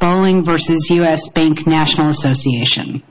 Bowling v. U.S. Bank National Association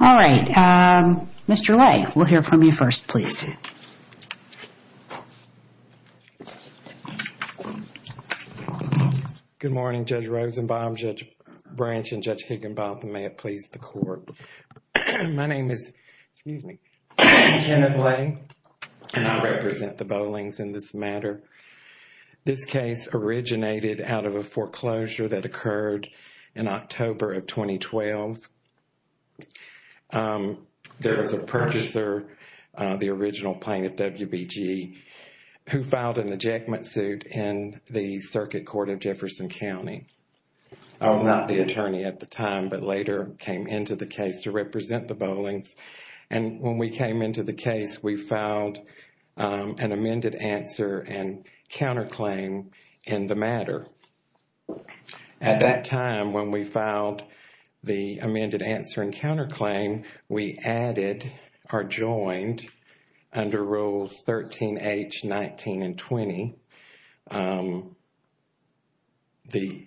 All right, Mr. Ley, we'll hear from you first, please. Good morning, Judge Rosenbaum, Judge Branch, and Judge Higginbotham. May it please the court. My name is Kenneth Ley, and I represent the bowlings in this matter. This case originated out of a foreclosure that occurred in October of 2012. There was a purchaser, the original plaintiff, WBG, who filed an ejectment suit in the Circuit Court of Jefferson County. I was not the attorney at the time, but later came into the case to represent the bowlings. When we came into the case, we filed an amended answer and counterclaim in the matter. At that time, when we filed the amended answer and counterclaim, we added or joined under Rules 13H, 19, and 20, the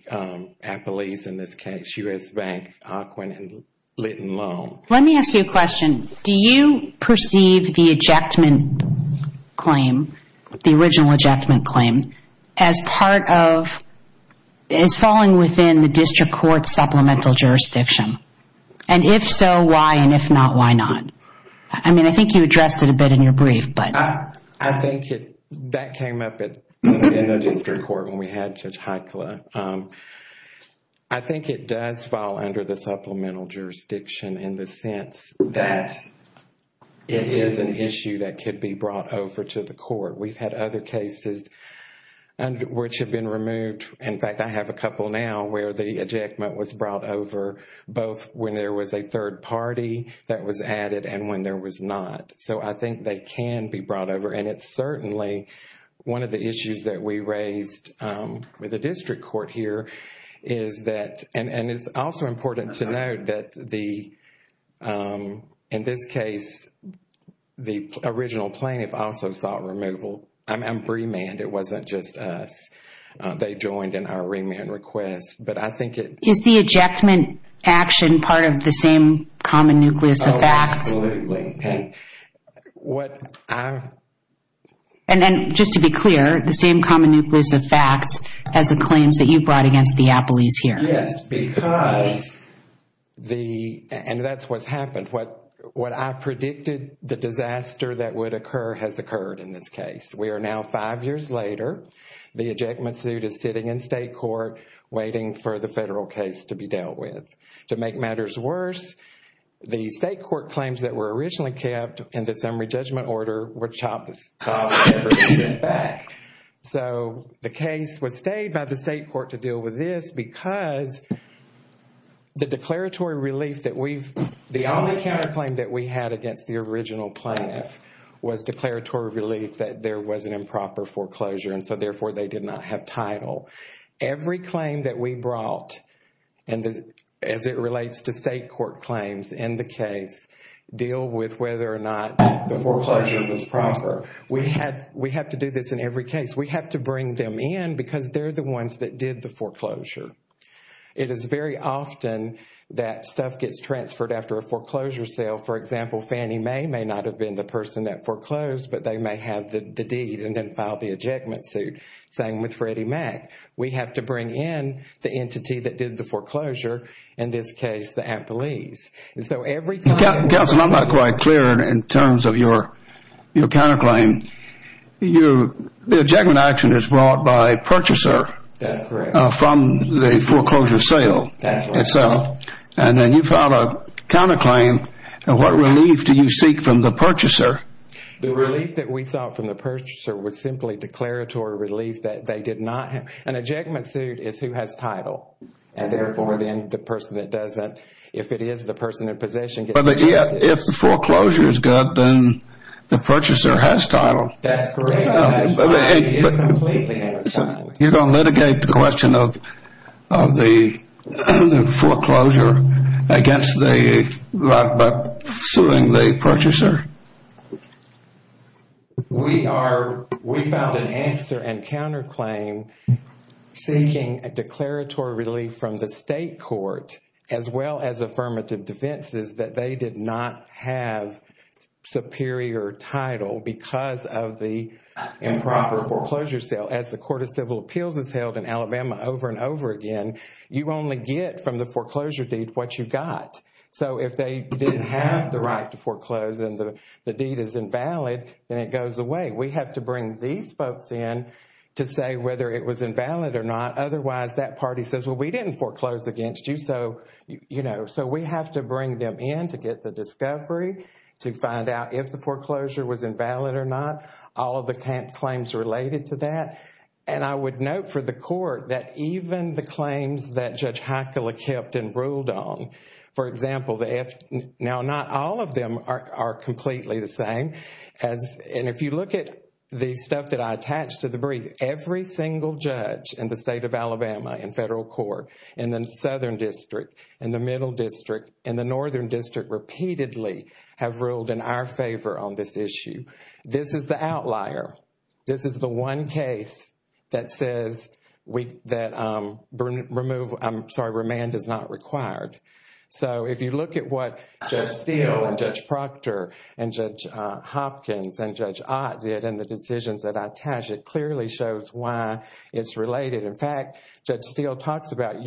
appellees in this case, U.S. Bank, Ocwen, and Litton Loan. Let me ask you a question. Do you perceive the original ejectment claim as falling within the district court's supplemental jurisdiction? If so, why? If not, why not? I think you addressed it a bit in your brief. That came up in the district court when we had Judge Heitkla. I think it does fall under the supplemental jurisdiction in the sense that it is an issue that could be brought over to the court. We've had other cases which have been removed. In fact, I have a couple now where the ejectment was brought over both when there was a third party that was added and when there was not. I think they can be brought over. It's certainly important to note that in this case, the original plaintiff also sought removal. I'm remanded. It wasn't just us. They joined in our remand request. Is the ejectment action part of the same common nucleus of facts? Oh, absolutely. Just to be clear, the same common nucleus of facts as the claims that you brought against the appellees here? Yes, because, and that's what's happened. What I predicted the disaster that would occur has occurred in this case. We are now five years later. The ejectment suit is sitting in state court waiting for the federal case to be dealt with. To make matters worse, the state court claims that were originally kept in the summary judgment order were chopped back. The case was stayed by the state court to deal with this because the declaratory relief that we've, the only counterclaim that we had against the original plaintiff was declaratory relief that there was an improper foreclosure. Therefore, they did not have title. Every claim that we brought, as it relates to state court claims in the case, deal with whether or not the foreclosure was proper. We have to do this in every case. We have to bring them in because they're the ones that did the foreclosure. It is very often that stuff gets transferred after a foreclosure sale. For example, Fannie Mae may not have been the person that foreclosed, but they may have the deed and then filed the ejectment suit. Same with Freddie Mac. We have to bring in the entity that did the I'm not quite clear in terms of your counterclaim. The ejectment action is brought by a purchaser from the foreclosure sale. Then you filed a counterclaim. What relief do you seek from the purchaser? The relief that we sought from the purchaser was simply declaratory relief that they did not have. An ejectment suit is who has title. Therefore, the person that doesn't, if it is the person in possession, gets ejected. If the foreclosure is good, then the purchaser has title. That's correct. That's right. He completely has title. You're going to litigate the question of the foreclosure by suing the purchaser? We found an answer and counterclaim seeking a declaratory relief from the state court as well as affirmative defenses that they did not have superior title because of the improper foreclosure sale. As the Court of Civil Appeals has held in Alabama over and over again, you only get from the foreclosure deed what you got. So if they didn't have the right to foreclose and the deed is invalid, then it goes away. We have to bring these folks in to say whether it was invalid or not. Otherwise, that party says, well, we didn't foreclose against you, so we have to bring them in to get the discovery, to find out if the foreclosure was invalid or not, all of the claims related to that. I would note for the court that even the claims that Judge Heikkila kept and ruled on, for example, now not all of them are completely the same. If you look at the stuff that I District, and the Southern District, and the Middle District, and the Northern District repeatedly have ruled in our favor on this issue. This is the outlier. This is the one case that says that remand is not required. So if you look at what Judge Steele and Judge Proctor and Judge Hopkins and Judge Ott did and the decisions that I attached, it clearly shows why it's related. In fact, Judge Steele talks about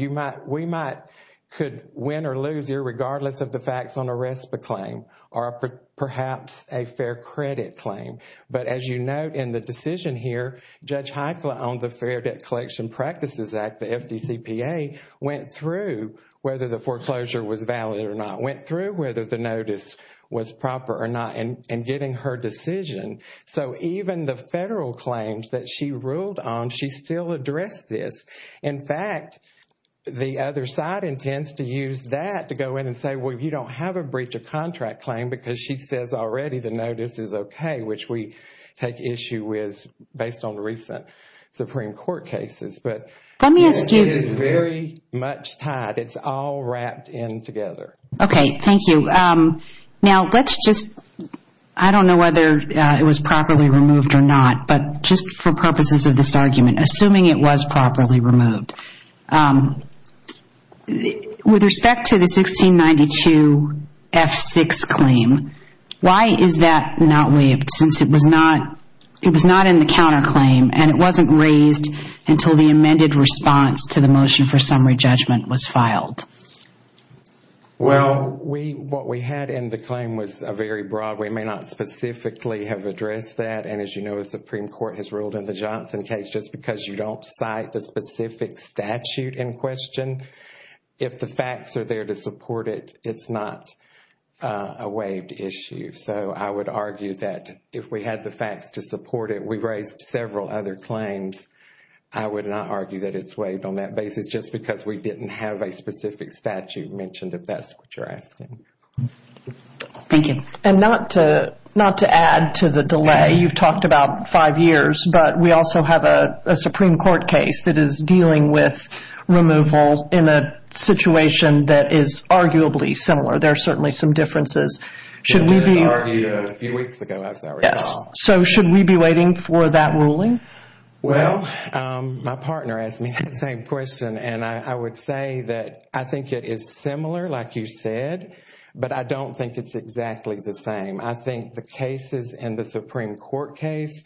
we might could win or lose here regardless of the facts on a RESPA claim or perhaps a fair credit claim. But as you note in the decision here, Judge Heikkila on the Fair Debt Collection Practices Act, the FDCPA, went through whether the foreclosure was valid or not, went through whether the notice was still addressed this. In fact, the other side intends to use that to go in and say, well, you don't have a breach of contract claim because she says already the notice is okay, which we take issue with based on recent Supreme Court cases. But it is very much tied. It's all wrapped in together. Okay, thank you. Now, let's just, I don't know whether it was properly removed or not, but just for purposes of this argument, assuming it was properly removed, with respect to the 1692 F6 claim, why is that not waived since it was not in the counterclaim and it wasn't raised until the amended response to the motion for summary judgment was filed? Well, what we had in the claim was a very broad, we may not specifically have addressed that, and as you know, the Supreme Court has ruled in the Johnson case just because you don't cite the specific statute in question. If the facts are there to support it, it's not a waived issue. So I would argue that if we had the facts to support it, we raised several other claims. I would not argue that it's waived on that basis just because we didn't have a specific statute mentioned, if that's what you're asking. Thank you. And not to add to the delay, you've talked about five years, but we also have a Supreme Court case that is dealing with removal in a situation that is arguably similar. There are certainly some differences. It was argued a few weeks ago, as I recall. Yes. So should we be waiting for that ruling? Well, my partner asked me that same question, and I would say that I think it is similar, like you said, but I don't think it's exactly the same. I think the cases in the Supreme Court case,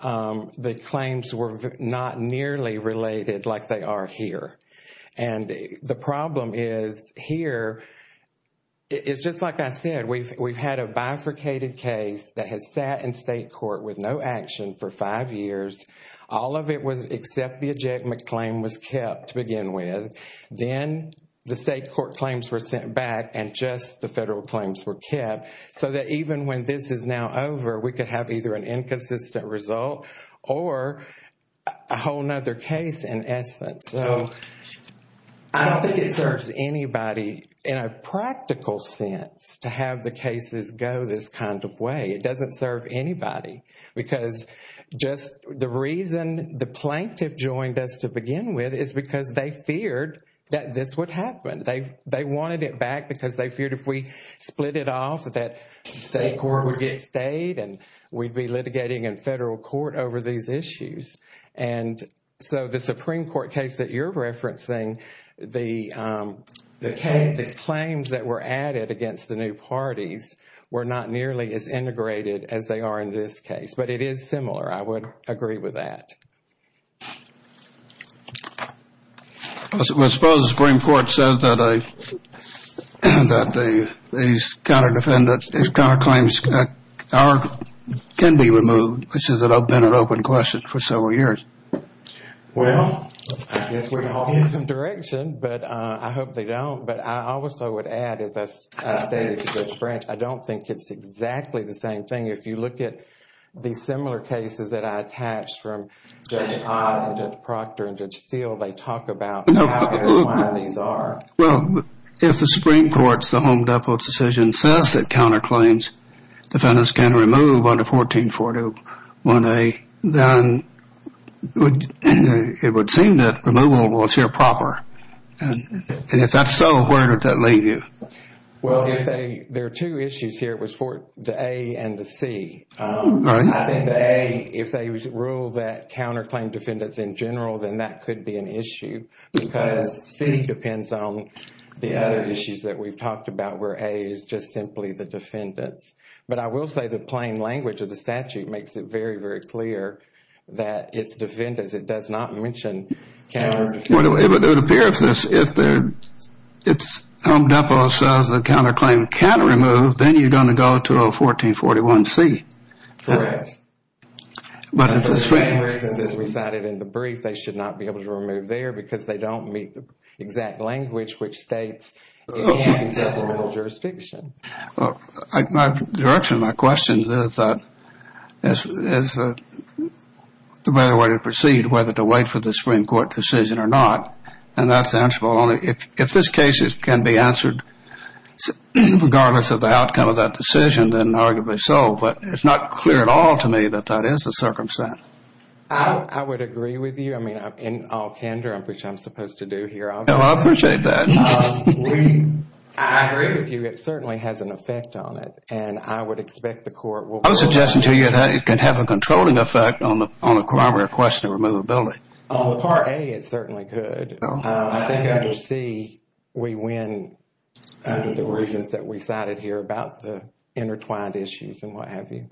the claims were not nearly related like they are here. And the problem is here, it's just like I said, we've had a bifurcated case that has sat in state court with no action for five years. All of it was except the ejectment claim was kept to begin with. Then the state court claims were sent back and just the federal claims were kept. So that even when this is now over, we could have either an inconsistent result or a whole nother case in essence. So I don't think it serves anybody in a practical sense to have the cases go this kind of way. It doesn't serve anybody because just the reason the plaintiff joined us to begin with is because they feared that this would happen. They wanted it back because they feared if we split it off that state court would get stayed and we'd be litigating in federal court over these issues. And so the Supreme Court case that you're referencing, the claims that were added against the new parties were not nearly as integrated as they are in this case. But it is similar. I would agree with that. I suppose the Supreme Court says that these counterclaims can be removed, which has been an open question for several years. Well, I guess we all get some direction, but I hope they don't. But I also would add, as I stated to Judge Branch, I don't think it's exactly the same thing. If you look at the similar cases that I attached from Judge Odd and Judge Proctor and Judge Steele, they talk about how and why these are. Well, if the Supreme Court's, the Home Depot's decision says that counterclaims defendants can remove under 14401A, then it would seem that removal was here proper. And if that's so, where would that leave you? Well, if they, there are two issues here. It was for the A and the C. All right. I think the A, if they rule that counterclaim defendants in general, then that could be an issue. Because C depends on the other issues that we've talked about where A is just simply the defendants. But I will say the plain language of the statute makes it very, very clear that it's defendants. It does not mention counter defendants. Well, it would appear if the Home Depot says the counterclaim can remove, then you're going to go to a 1441C. Correct. But if the Supreme Court's decision is recited in the brief, they should not be able to remove there because they don't meet the exact language which states it can't be supplemental jurisdiction. Well, my direction, my question is that the better way to proceed, whether to wait for the Supreme Court decision or not, and that's the answer. If this case can be answered regardless of the outcome of that decision, then arguably so. But it's not clear at all to me that that is the circumstance. I would agree with you. I mean, in all candor, which I'm supposed to do here, obviously. No, I appreciate that. I agree with you. It certainly has an effect on it. And I would expect the Court will rule that. It can have a controlling effect on the primary question of removability. On the Part A, it certainly could. I think under C, we win under the reasons that we cited here about the intertwined issues and what have you.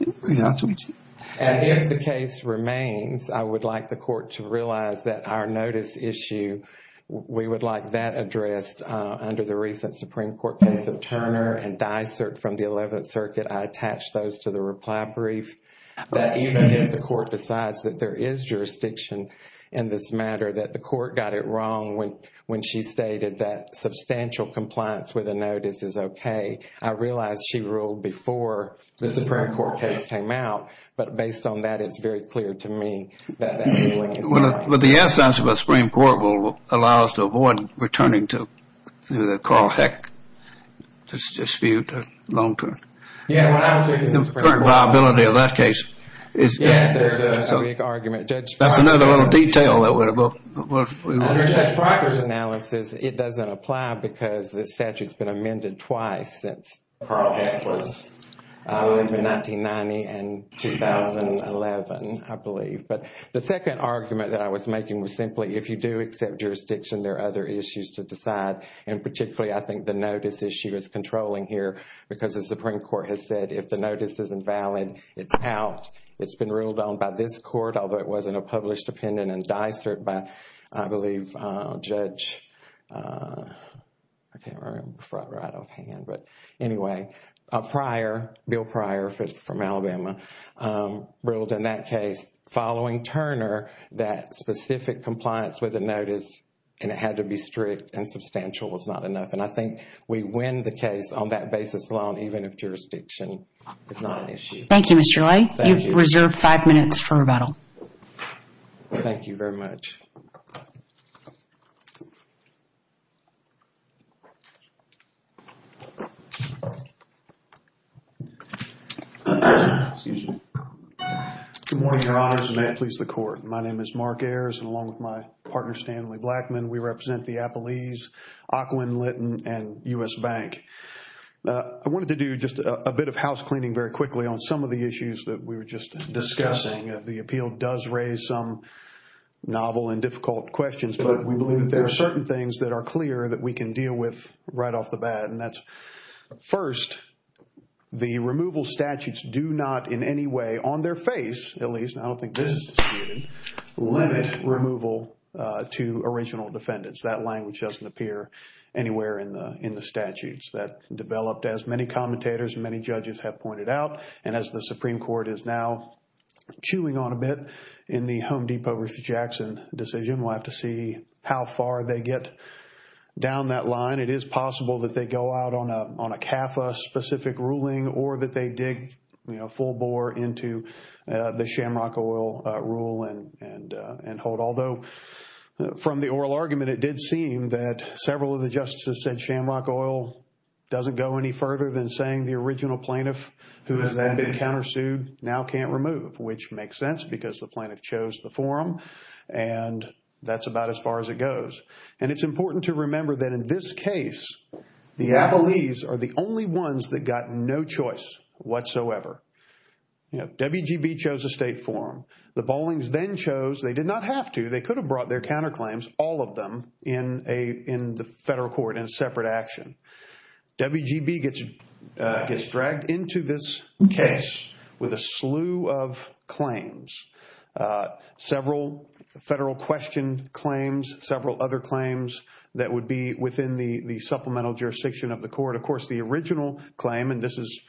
Yes, we do. And if the case remains, I would like the Court to realize that our notice issue, we would like that addressed under the recent Supreme Court case of Turner and Dysart from the 11th Circuit. I attach those to the reply brief. That even if the Court decides that there is jurisdiction in this matter, that the Court got it wrong when she stated that substantial compliance with a notice is okay. I realize she ruled before the Supreme Court case came out. But based on that, it's very clear to me that that ruling is wrong. But the absence of a Supreme Court will allow us to avoid returning to the Carl Heck dispute long-term. Yeah, when I was speaking to the Supreme Court. The liability of that case. Yes, there's a weak argument. That's another little detail. Under Judge Proctor's analysis, it doesn't apply because the statute's been amended twice since Carl Heck was in 1990 and 2011, I believe. But the second argument that I was making was simply, if you do accept jurisdiction, there are other issues to decide. And particularly, I think the notice issue is controlling here. Because the Supreme Court has said if the notice is invalid, it's out. It's been ruled on by this Court, although it wasn't a published opinion in Dysart by, I believe, Judge, I can't remember right offhand. But anyway, prior, Bill Pryor from Alabama, ruled in that case, following Turner, that specific compliance with the notice, and it had to be strict and substantial, was not enough. And I think we win the case on that basis alone, even if jurisdiction is not an issue. Thank you, Mr. Lay. Thank you. You've reserved five minutes for rebuttal. Thank you very much. Excuse me. Good morning, Your Honors, and may it please the Court. My name is Mark Ayers, and along with my partner, Stanley Blackman, we represent the Appalese, Occoquan-Lytton, and U.S. Bank. I wanted to do just a bit of housecleaning very quickly on some of the issues that we were just discussing. The appeal does raise some novel and difficult questions, but we believe that there are certain things that are clear that we can deal with right off the bat. And that's, first, the removal statutes do not in any way, on their face at least, I don't think this is disputed, limit removal to original defendants. That language doesn't appear anywhere in the statutes. That developed, as many commentators and many judges have pointed out, and as the Supreme Court is now chewing on a bit in the Home Depot v. Jackson decision, we'll have to see how far they get down that line. It is possible that they go out on a CAFA-specific ruling or that they dig full bore into the Shamrock Oil rule and hold. Although, from the oral argument, it did seem that several of the justices said Shamrock Oil doesn't go any further than saying the original plaintiff who has then been countersued now can't remove, which makes sense because the plaintiff chose the forum, and that's about as far as it goes. And it's important to remember that in this case, the Applees are the only ones that got no choice whatsoever. WGB chose a state forum. The Bollings then chose, they did not have to, they could have brought their counterclaims, all of them, in the federal court in a separate action. WGB gets dragged into this case with a slew of claims, several federal question claims, several other claims that would be within the supplemental jurisdiction of the court. Of course, the original claim, and this is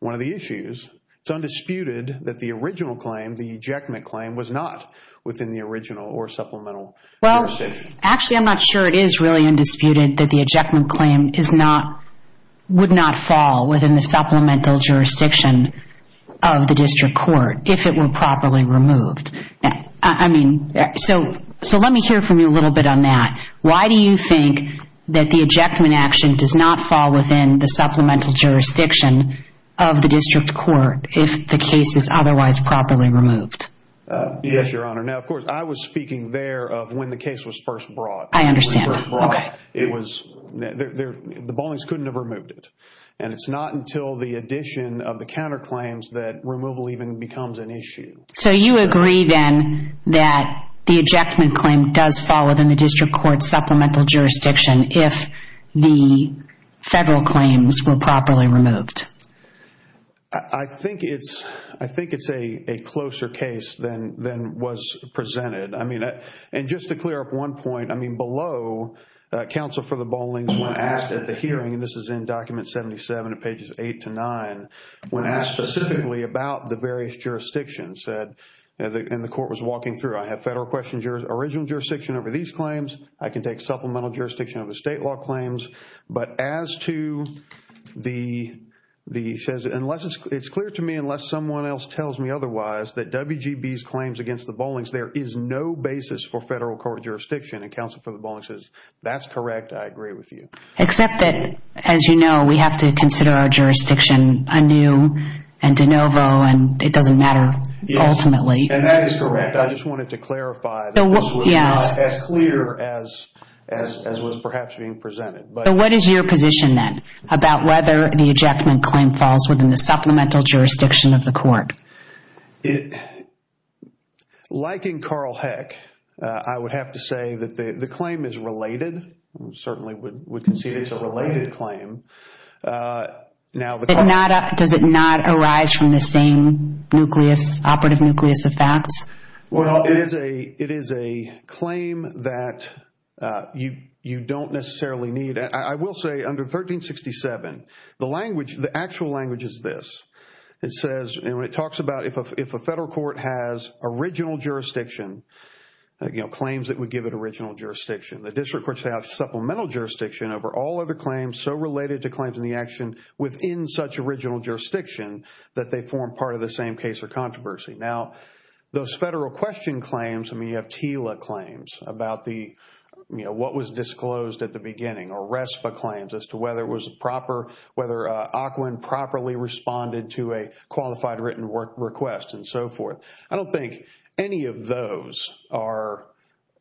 one of the issues, it's undisputed that the original claim, the ejectment claim, was not within the original or supplemental jurisdiction. Actually, I'm not sure it is really undisputed that the ejectment claim is not, would not fall within the supplemental jurisdiction of the district court if it were properly removed. I mean, so let me hear from you a little bit on that. Why do you think that the ejectment action does not fall within the supplemental jurisdiction of the district court if the case is otherwise properly removed? Yes, Your Honor. Now, of course, I was speaking there of when the case was first brought. I understand. It was, the Bollings couldn't have removed it. And it's not until the addition of the counterclaims that removal even becomes an issue. So you agree then that the ejectment claim does fall within the district court supplemental jurisdiction if the federal claims were properly removed? I think it's, I think it's a closer case than was presented. I mean, and just to clear up one point, I mean, below, counsel for the Bollings when asked at the hearing, and this is in document 77 at pages 8 to 9, when asked specifically about the various jurisdictions said, and the court was walking through, I have federal questions, your original jurisdiction over these claims. I can take supplemental jurisdiction of the state law claims. But as to the, unless it's clear to me, unless someone else tells me otherwise, that WGB's claims against the Bollings, there is no basis for federal court jurisdiction. And counsel for the Bollings says, that's correct. I agree with you. Except that, as you know, we have to consider our jurisdiction anew and de novo, and it doesn't matter ultimately. And that is correct. I just wanted to clarify that this was not as clear as was perhaps being presented. So what is your position then about whether the ejectment claim falls within the supplemental jurisdiction of the court? It, like in Carl Heck, I would have to say that the claim is related, certainly would concede it's a related claim. Does it not arise from the same nucleus, operative nucleus of facts? Well, it is a claim that you don't necessarily need. I will say under 1367, the language, the actual language is this. It says, it talks about if a federal court has original jurisdiction, you know, claims that would give it original jurisdiction. The district courts have supplemental jurisdiction over all other claims so related to claims in the action within such original jurisdiction that they form part of the same case or controversy. Now, those federal question claims, I mean, you have TILA claims about the, you know, what was disclosed at the beginning. Or RESPA claims as to whether it was proper, whether Ocwen properly responded to a qualified written request and so forth. I don't think any of those are,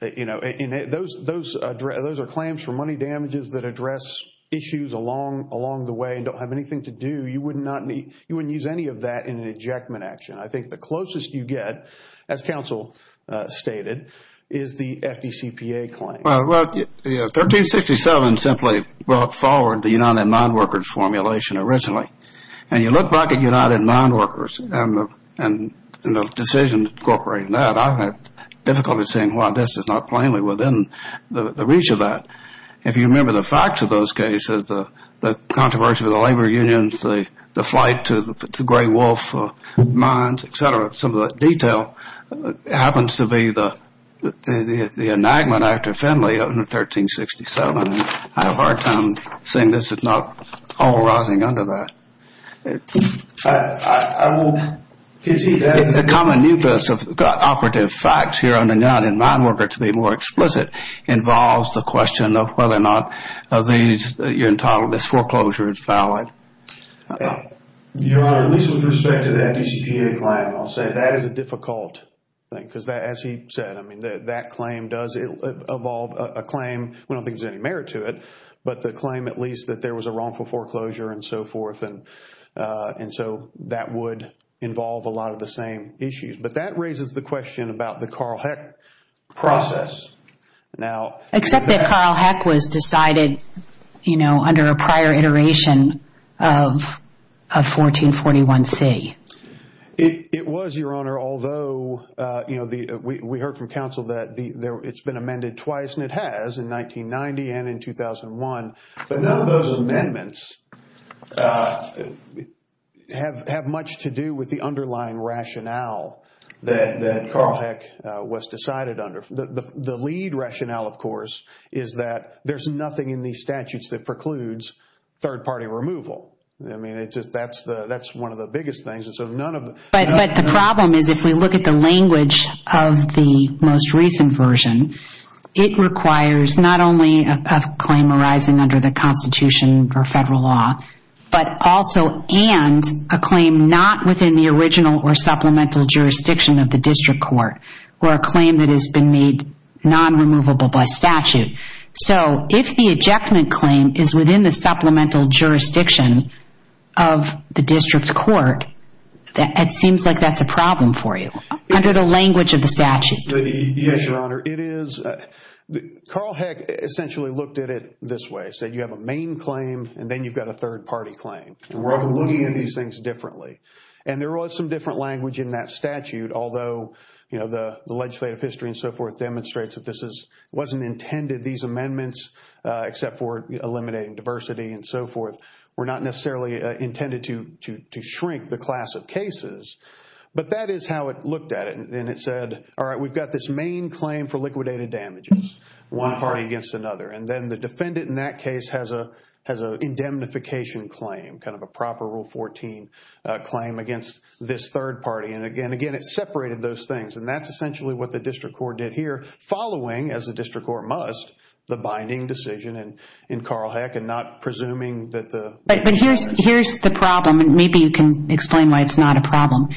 you know, those are claims for money damages that address issues along the way and don't have anything to do. You wouldn't use any of that in an ejectment action. I think the closest you get, as counsel stated, is the FDCPA claim. Well, 1367 simply brought forward the United Mine Workers formulation originally. And you look back at United Mine Workers and the decision incorporating that, I've had difficulty seeing why this is not plainly within the reach of that. If you remember the facts of those cases, the controversy with the labor unions, the flight to the Gray Wolf mines, et cetera, some of the detail happens to be the enactment after Fenley of 1367. I have a hard time seeing this is not all rising under that. I will concede that. The common nucleus of operative facts here on the United Mine Workers, to be more explicit, involves the question of whether or not this foreclosure is valid. Your Honor, at least with respect to the FDCPA claim, I'll say that is a difficult thing. Because as he said, I mean, that claim does involve a claim. We don't think there's any merit to it. But the claim, at least, that there was a wrongful foreclosure and so forth. And so that would involve a lot of the same issues. But that raises the question about the Carl Heck process. Except that Carl Heck was decided under a prior iteration of 1441C. It was, Your Honor. Although we heard from counsel that it's been amended twice, and it has, in 1990 and in 2001. But none of those amendments have much to do with the underlying rationale that Carl Heck was decided under. The lead rationale, of course, is that there's nothing in these statutes that precludes third-party removal. I mean, that's one of the biggest things. But the problem is, if we look at the language of the most recent version, it requires not only a claim arising under the Constitution or federal law, but also and a claim not within the original or supplemental jurisdiction of the district court, or a claim that has been made non-removable by statute. So if the ejectment claim is within the supplemental jurisdiction of the district court, it seems like that's a problem for you, under the language of the statute. Yes, Your Honor. It is. Carl Heck essentially looked at it this way. He said, you have a main claim, and then you've got a third-party claim. And we're looking at these things differently. And there was some different language in that statute. Although the legislative history and so forth demonstrates that this wasn't intended, these amendments, except for eliminating diversity and so forth, were not necessarily intended to shrink the class of cases. But that is how it looked at it. And it said, all right, we've got this main claim for liquidated damages, one party against another. And then the defendant in that case has an indemnification claim, kind of a proper Rule 14 claim against this third party. And, again, it separated those things. And that's essentially what the district court did here, following, as the district court must, the binding decision in Carl Heck and not presuming that the ---- But here's the problem, and maybe you can explain why it's not a problem.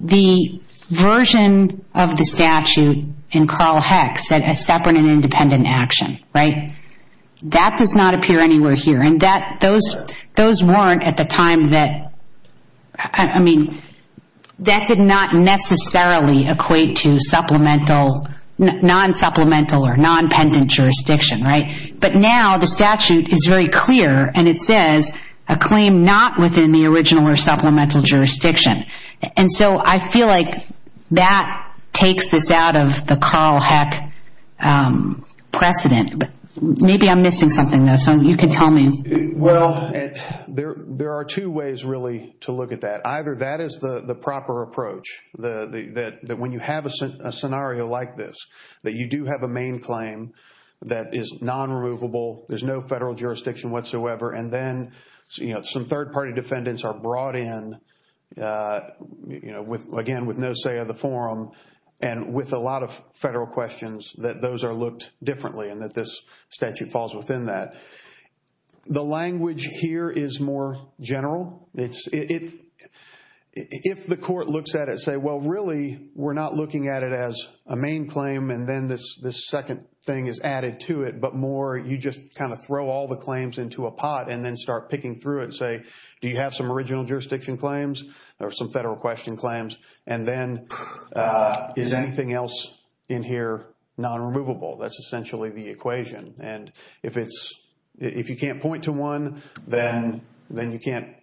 The version of the statute in Carl Heck said a separate and independent action, right? That does not appear anywhere here. And those weren't at the time that, I mean, that did not necessarily equate to supplemental, non-supplemental or non-pendant jurisdiction, right? But now the statute is very clear, and it says a claim not within the original or supplemental jurisdiction. And so I feel like that takes this out of the Carl Heck precedent. Maybe I'm missing something, though, so you can tell me. Well, there are two ways, really, to look at that. Either that is the proper approach, that when you have a scenario like this, that you do have a main claim that is non-removable, there's no federal jurisdiction whatsoever, and then some third party defendants are brought in, again, with no say of the forum, and with a lot of federal questions that those are looked differently and that this statute falls within that. The language here is more general. If the court looks at it and says, well, really, we're not looking at it as a main claim, and then this second thing is added to it, but more you just kind of throw all the claims into a pot and then start picking through it and say, do you have some original jurisdiction claims or some federal question claims, and then is anything else in here non-removable? That's essentially the equation. And if you can't point to one, then you can't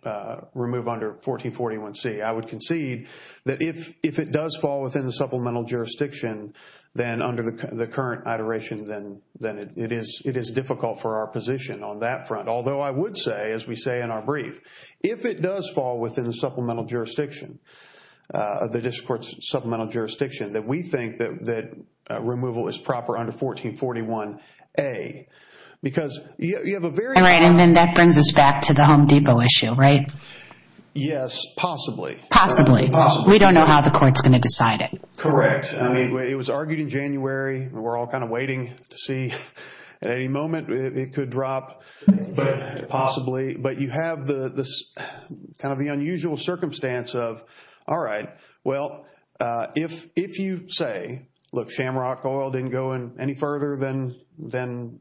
remove under 1441C. I would concede that if it does fall within the supplemental jurisdiction, then under the current iteration, then it is difficult for our position on that front. Although I would say, as we say in our brief, if it does fall within the supplemental jurisdiction, the district court's supplemental jurisdiction, that we think that removal is proper under 1441A. Because you have a very- And then that brings us back to the Home Depot issue, right? Yes, possibly. Possibly. We don't know how the court's going to decide it. Correct. It was argued in January. We're all kind of waiting to see at any moment it could drop, possibly. But you have kind of the unusual circumstance of, all right, well, if you say, look, Shamrock Oil didn't go in any further than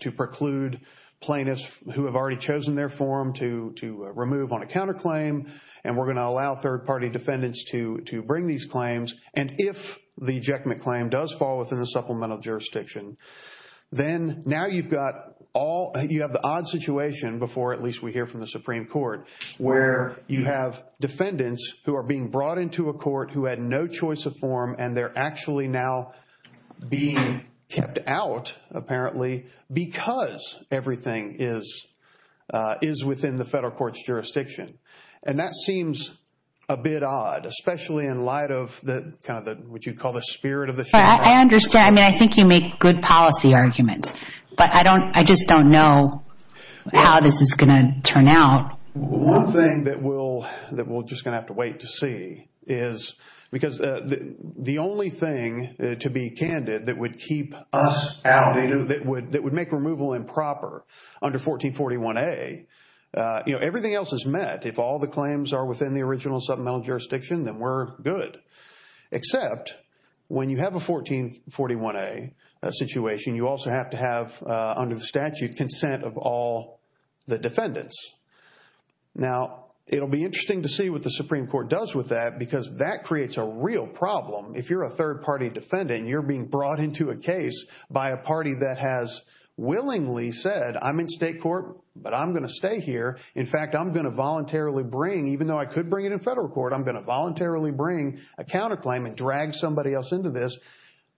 to preclude plaintiffs who have already chosen their form to remove on a counterclaim, and we're going to allow third-party defendants to bring these claims. And if the ejectment claim does fall within the supplemental jurisdiction, then now you've got all- you have the odd situation, before at least we hear from the Supreme Court, where you have defendants who are being brought into a court who had no choice of form, and they're actually now being kept out, apparently, because everything is within the federal court's jurisdiction. And that seems a bit odd, especially in light of kind of what you'd call the spirit of the- I understand. I mean, I think you make good policy arguments, but I just don't know how this is going to turn out. One thing that we're just going to have to wait to see is because the only thing, to be candid, that would keep us out, that would make removal improper under 1441A, you know, everything else is met. If all the claims are within the original supplemental jurisdiction, then we're good. Except when you have a 1441A situation, you also have to have, under the statute, consent of all the defendants. Now, it'll be interesting to see what the Supreme Court does with that because that creates a real problem. If you're a third-party defendant, you're being brought into a case by a party that has willingly said, I'm in state court, but I'm going to stay here. In fact, I'm going to voluntarily bring, even though I could bring it in federal court, I'm going to voluntarily bring a counterclaim and drag somebody else into this.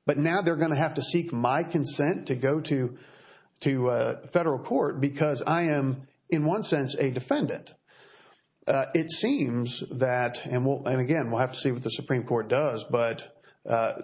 But now they're going to have to seek my consent to go to federal court because I am, in one sense, a defendant. It seems that, and again, we'll have to see what the Supreme Court does, but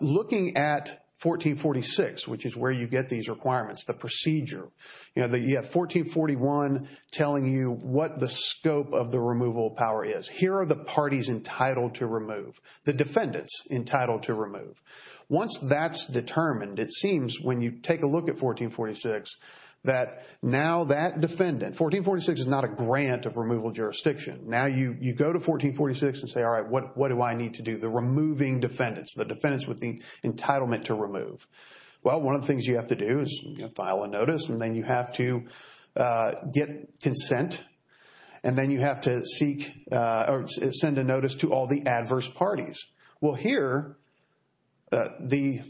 looking at 1446, which is where you get these requirements, the procedure, you have 1441 telling you what the scope of the removal power is. Here are the parties entitled to remove, the defendants entitled to remove. Once that's determined, it seems when you take a look at 1446 that now that defendant, 1446 is not a grant of removal jurisdiction. Now you go to 1446 and say, all right, what do I need to do? The removing defendants, the defendants with the entitlement to remove. Well, one of the things you have to do is file a notice, and then you have to get consent, and then you have to seek or send a notice to all the adverse parties. Well, here, the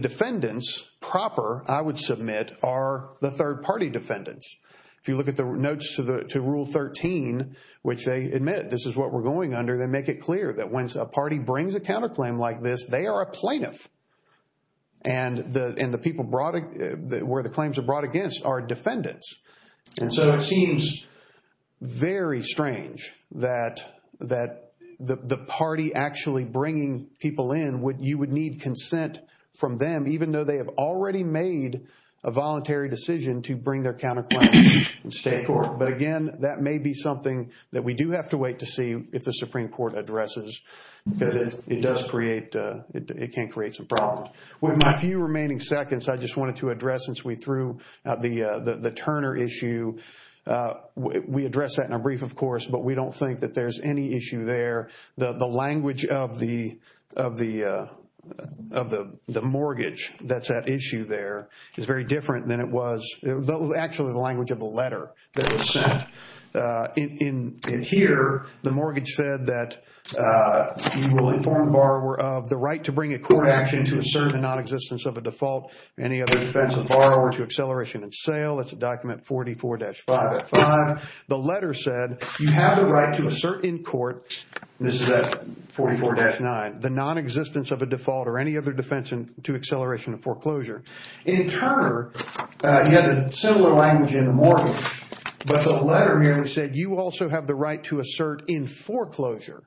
defendants proper I would submit are the third-party defendants. If you look at the notes to Rule 13, which they admit this is what we're going under, they make it clear that when a party brings a counterclaim like this, they are a plaintiff, and the people where the claims are brought against are defendants. So it seems very strange that the party actually bringing people in, you would need consent from them, even though they have already made a voluntary decision to bring their counterclaim in state court. But, again, that may be something that we do have to wait to see if the Supreme Court addresses, because it does create, it can create some problems. With my few remaining seconds, I just wanted to address, since we threw out the Turner issue, we addressed that in a brief, of course, but we don't think that there's any issue there. The language of the mortgage that's at issue there is very different than it was, actually the language of the letter that was sent. In here, the mortgage said that you will inform the borrower of the right to bring a court action to assert the nonexistence of a default or any other defense of borrower to acceleration in sale. It's a document 44-5. The letter said you have the right to assert in court, this is at 44-9, the nonexistence of a default or any other defense to acceleration of foreclosure. In Turner, you have a similar language in the mortgage, but the letter here said you also have the right to assert in foreclosure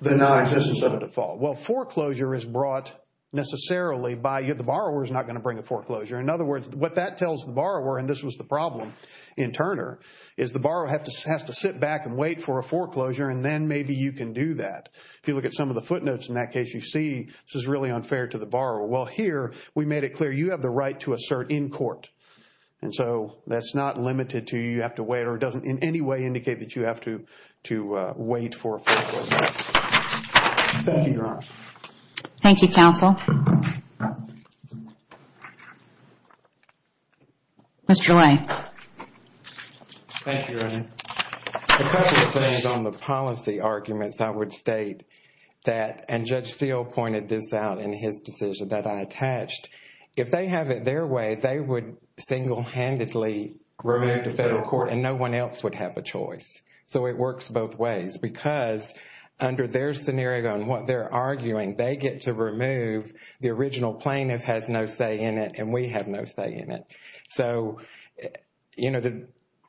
the nonexistence of a default. Well, foreclosure is brought necessarily by, the borrower is not going to bring a foreclosure. In other words, what that tells the borrower, and this was the problem in Turner, is the borrower has to sit back and wait for a foreclosure, and then maybe you can do that. If you look at some of the footnotes in that case, you see this is really unfair to the borrower. Well, here we made it clear you have the right to assert in court, and so that's not limited to you. You have to wait, or it doesn't in any way indicate that you have to wait for a foreclosure. Thank you, Your Honor. Thank you, counsel. Mr. Ray. Thank you, Your Honor. A couple of things on the policy arguments, I would state that, and Judge Steele pointed this out in his decision that I attached, if they have it their way, they would single-handedly remove the federal court, and no one else would have a choice. So it works both ways, because under their scenario and what they're arguing, they get to remove the original plaintiff has no say in it, and we have no say in it. So, you know,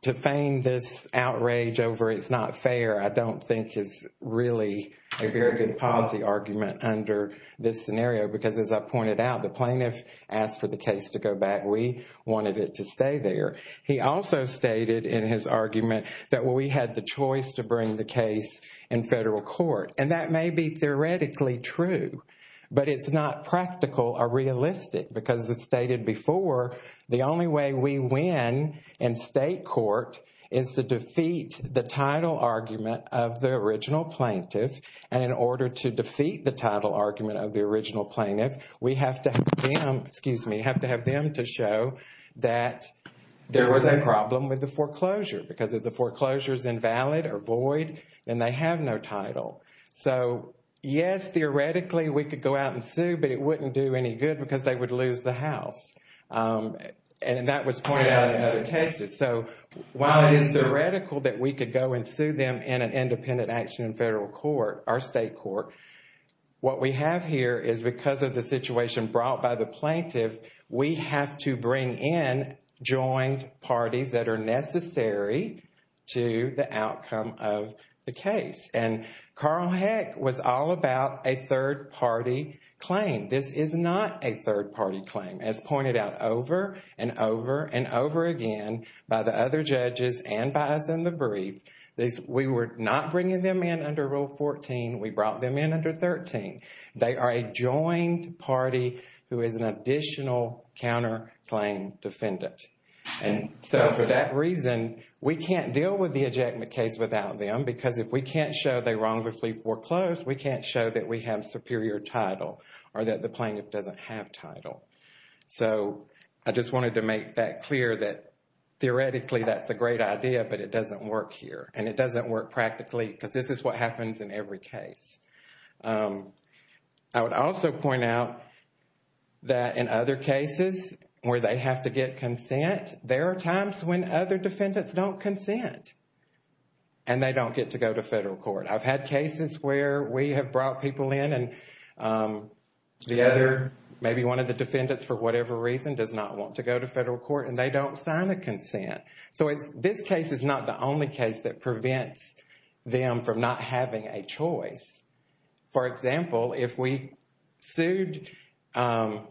to feign this outrage over it's not fair, I don't think is really a very good policy argument under this scenario, because as I pointed out, the plaintiff asked for the case to go back. We wanted it to stay there. He also stated in his argument that we had the choice to bring the case in federal court, and that may be theoretically true, but it's not practical or realistic, because as it's stated before, the only way we win in state court is to defeat the title argument of the original plaintiff, and in order to defeat the title argument of the original plaintiff, we have to have them to show that there was a problem with the foreclosure, because if the foreclosure is invalid or void, then they have no title. So, yes, theoretically, we could go out and sue, but it wouldn't do any good because they would lose the house, and that was pointed out in other cases. So, while it is theoretical that we could go and sue them in an independent action in federal court or state court, what we have here is because of the situation brought by the plaintiff, we have to bring in joined parties that are necessary to the outcome of the case, and Carl Heck was all about a third-party claim. This is not a third-party claim, as pointed out over and over and over again by the other judges and by us in the brief. We were not bringing them in under Rule 14. We brought them in under 13. They are a joined party who is an additional counterclaim defendant, and so for that reason, we can't deal with the ejectment case without them because if we can't show they wrongfully foreclosed, we can't show that we have superior title or that the plaintiff doesn't have title. So, I just wanted to make that clear that, theoretically, that's a great idea, but it doesn't work here, and it doesn't work practically because this is what happens in every case. I would also point out that in other cases where they have to get consent, there are times when other defendants don't consent, and they don't get to go to federal court. I've had cases where we have brought people in and the other, maybe one of the defendants for whatever reason, does not want to go to federal court, and they don't sign a consent. So, this case is not the only case that prevents them from not having a choice. For example, if we sued A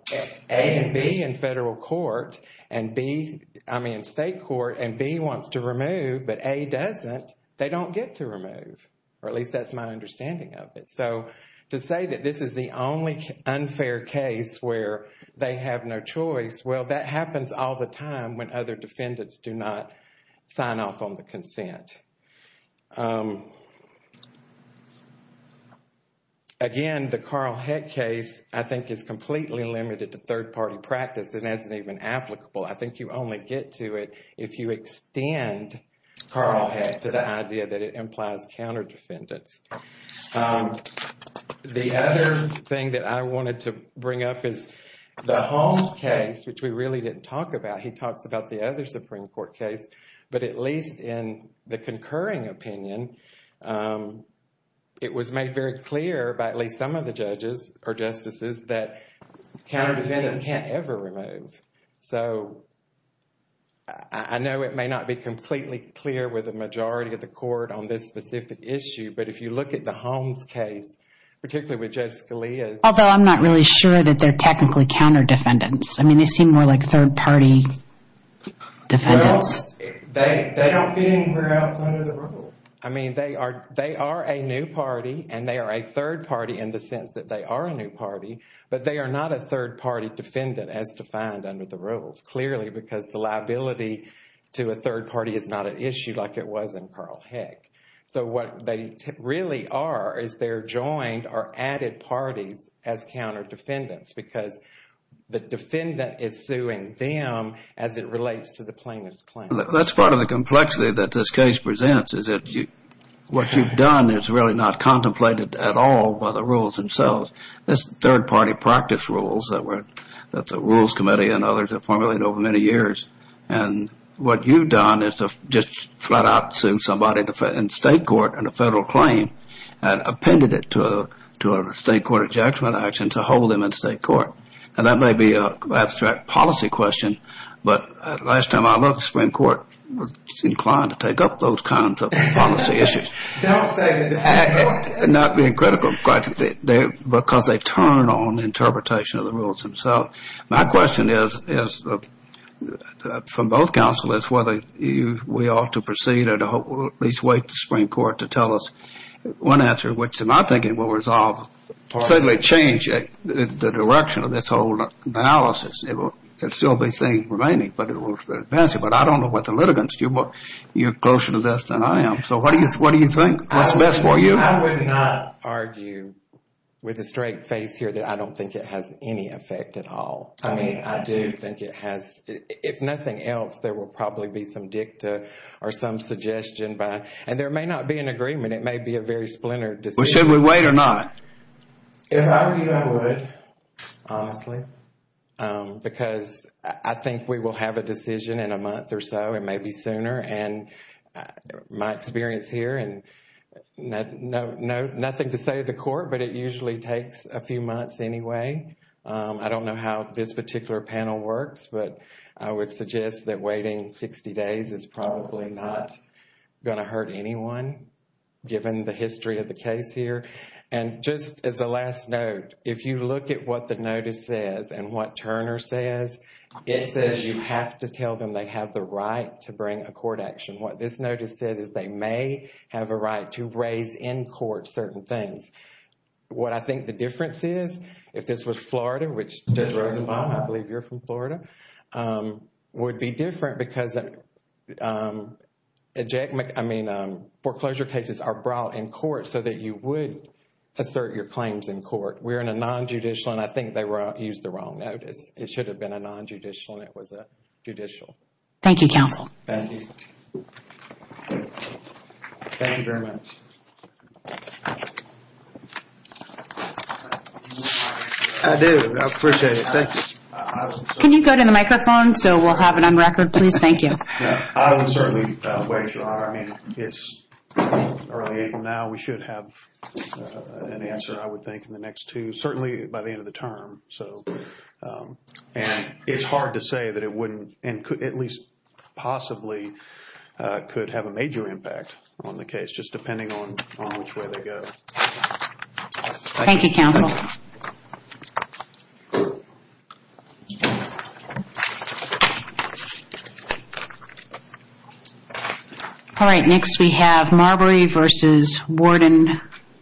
and B in federal court, and B, I mean state court, and B wants to remove, but A doesn't, they don't get to remove, or at least that's my understanding of it. So, to say that this is the only unfair case where they have no choice, well, that happens all the time when other defendants do not sign off on the consent. Again, the Carl Heck case, I think, is completely limited to third-party practice. It isn't even applicable. I think you only get to it if you extend Carl Heck to the idea that it implies counter-defendants. The other thing that I wanted to bring up is the Holmes case, which we really didn't talk about. He talks about the other Supreme Court case, but at least in the concurring opinion, it was made very clear by at least some of the judges, or justices, that counter-defendants can't ever remove. So, I know it may not be completely clear with the majority of the court on this specific issue, but if you look at the Holmes case, particularly with Judge Scalia. Although I'm not really sure that they're technically counter-defendants. I mean, they seem more like third-party defendants. Well, they don't fit anywhere else under the rule. I mean, they are a new party, and they are a third party in the sense that they are a new party, but they are not a third-party defendant as defined under the rules, clearly because the liability to a third party is not an issue like it was in Carl Heck. So, what they really are is they're joined or added parties as counter-defendants because the defendant is suing them as it relates to the plaintiff's claim. That's part of the complexity that this case presents, is that what you've done is really not contemplated at all by the rules themselves. This is third-party practice rules that the Rules Committee and others have formulated over many years, and what you've done is just flat-out sued somebody in state court on a federal claim and appended it to a state court ejection action to hold them in state court. And that may be an abstract policy question, but last time I looked, the Supreme Court was inclined to take up those kinds of policy issues. Don't say that. Not being critical, but because they turn on interpretation of the rules themselves. My question is, from both counsel, is whether we ought to proceed or at least wait for the Supreme Court to tell us one answer, which in my thinking will resolve. Certainly change the direction of this whole analysis. There will still be things remaining, but it will advance it. But I don't know what the litigants do, but you're closer to this than I am. So what do you think? What's best for you? I would not argue with a straight face here that I don't think it has any effect at all. I mean, I do think it has. If nothing else, there will probably be some dicta or some suggestion. And there may not be an agreement. It may be a very splintered decision. Well, should we wait or not? If I were you, I would, honestly. Because I think we will have a decision in a month or so, it may be sooner. And my experience here, nothing to say to the court, but it usually takes a few months anyway. I don't know how this particular panel works, but I would suggest that waiting 60 days is probably not going to hurt anyone, given the history of the case here. And just as a last note, if you look at what the notice says and what Turner says, it says you have to tell them they have the right to bring a court action. What this notice says is they may have a right to raise in court certain things. What I think the difference is, if this was Florida, which Judge Rosenbaum, I believe you're from Florida, would be different, because foreclosure cases are brought in court so that you would assert your claims in court. We're in a non-judicial, and I think they used the wrong notice. It should have been a non-judicial, and it was a judicial. Thank you, counsel. Thank you. Thank you very much. I do. I appreciate it. Thank you. Can you go to the microphone so we'll have it on record, please? Thank you. I don't certainly wager on it. I mean, it's early April now. We should have an answer, I would think, in the next two, certainly by the end of the term. So, and it's hard to say that it wouldn't, at least possibly, could have a major impact on the case, just depending on which way they go. Thank you, counsel. Thank you. All right, next we have Marbury v. Warden.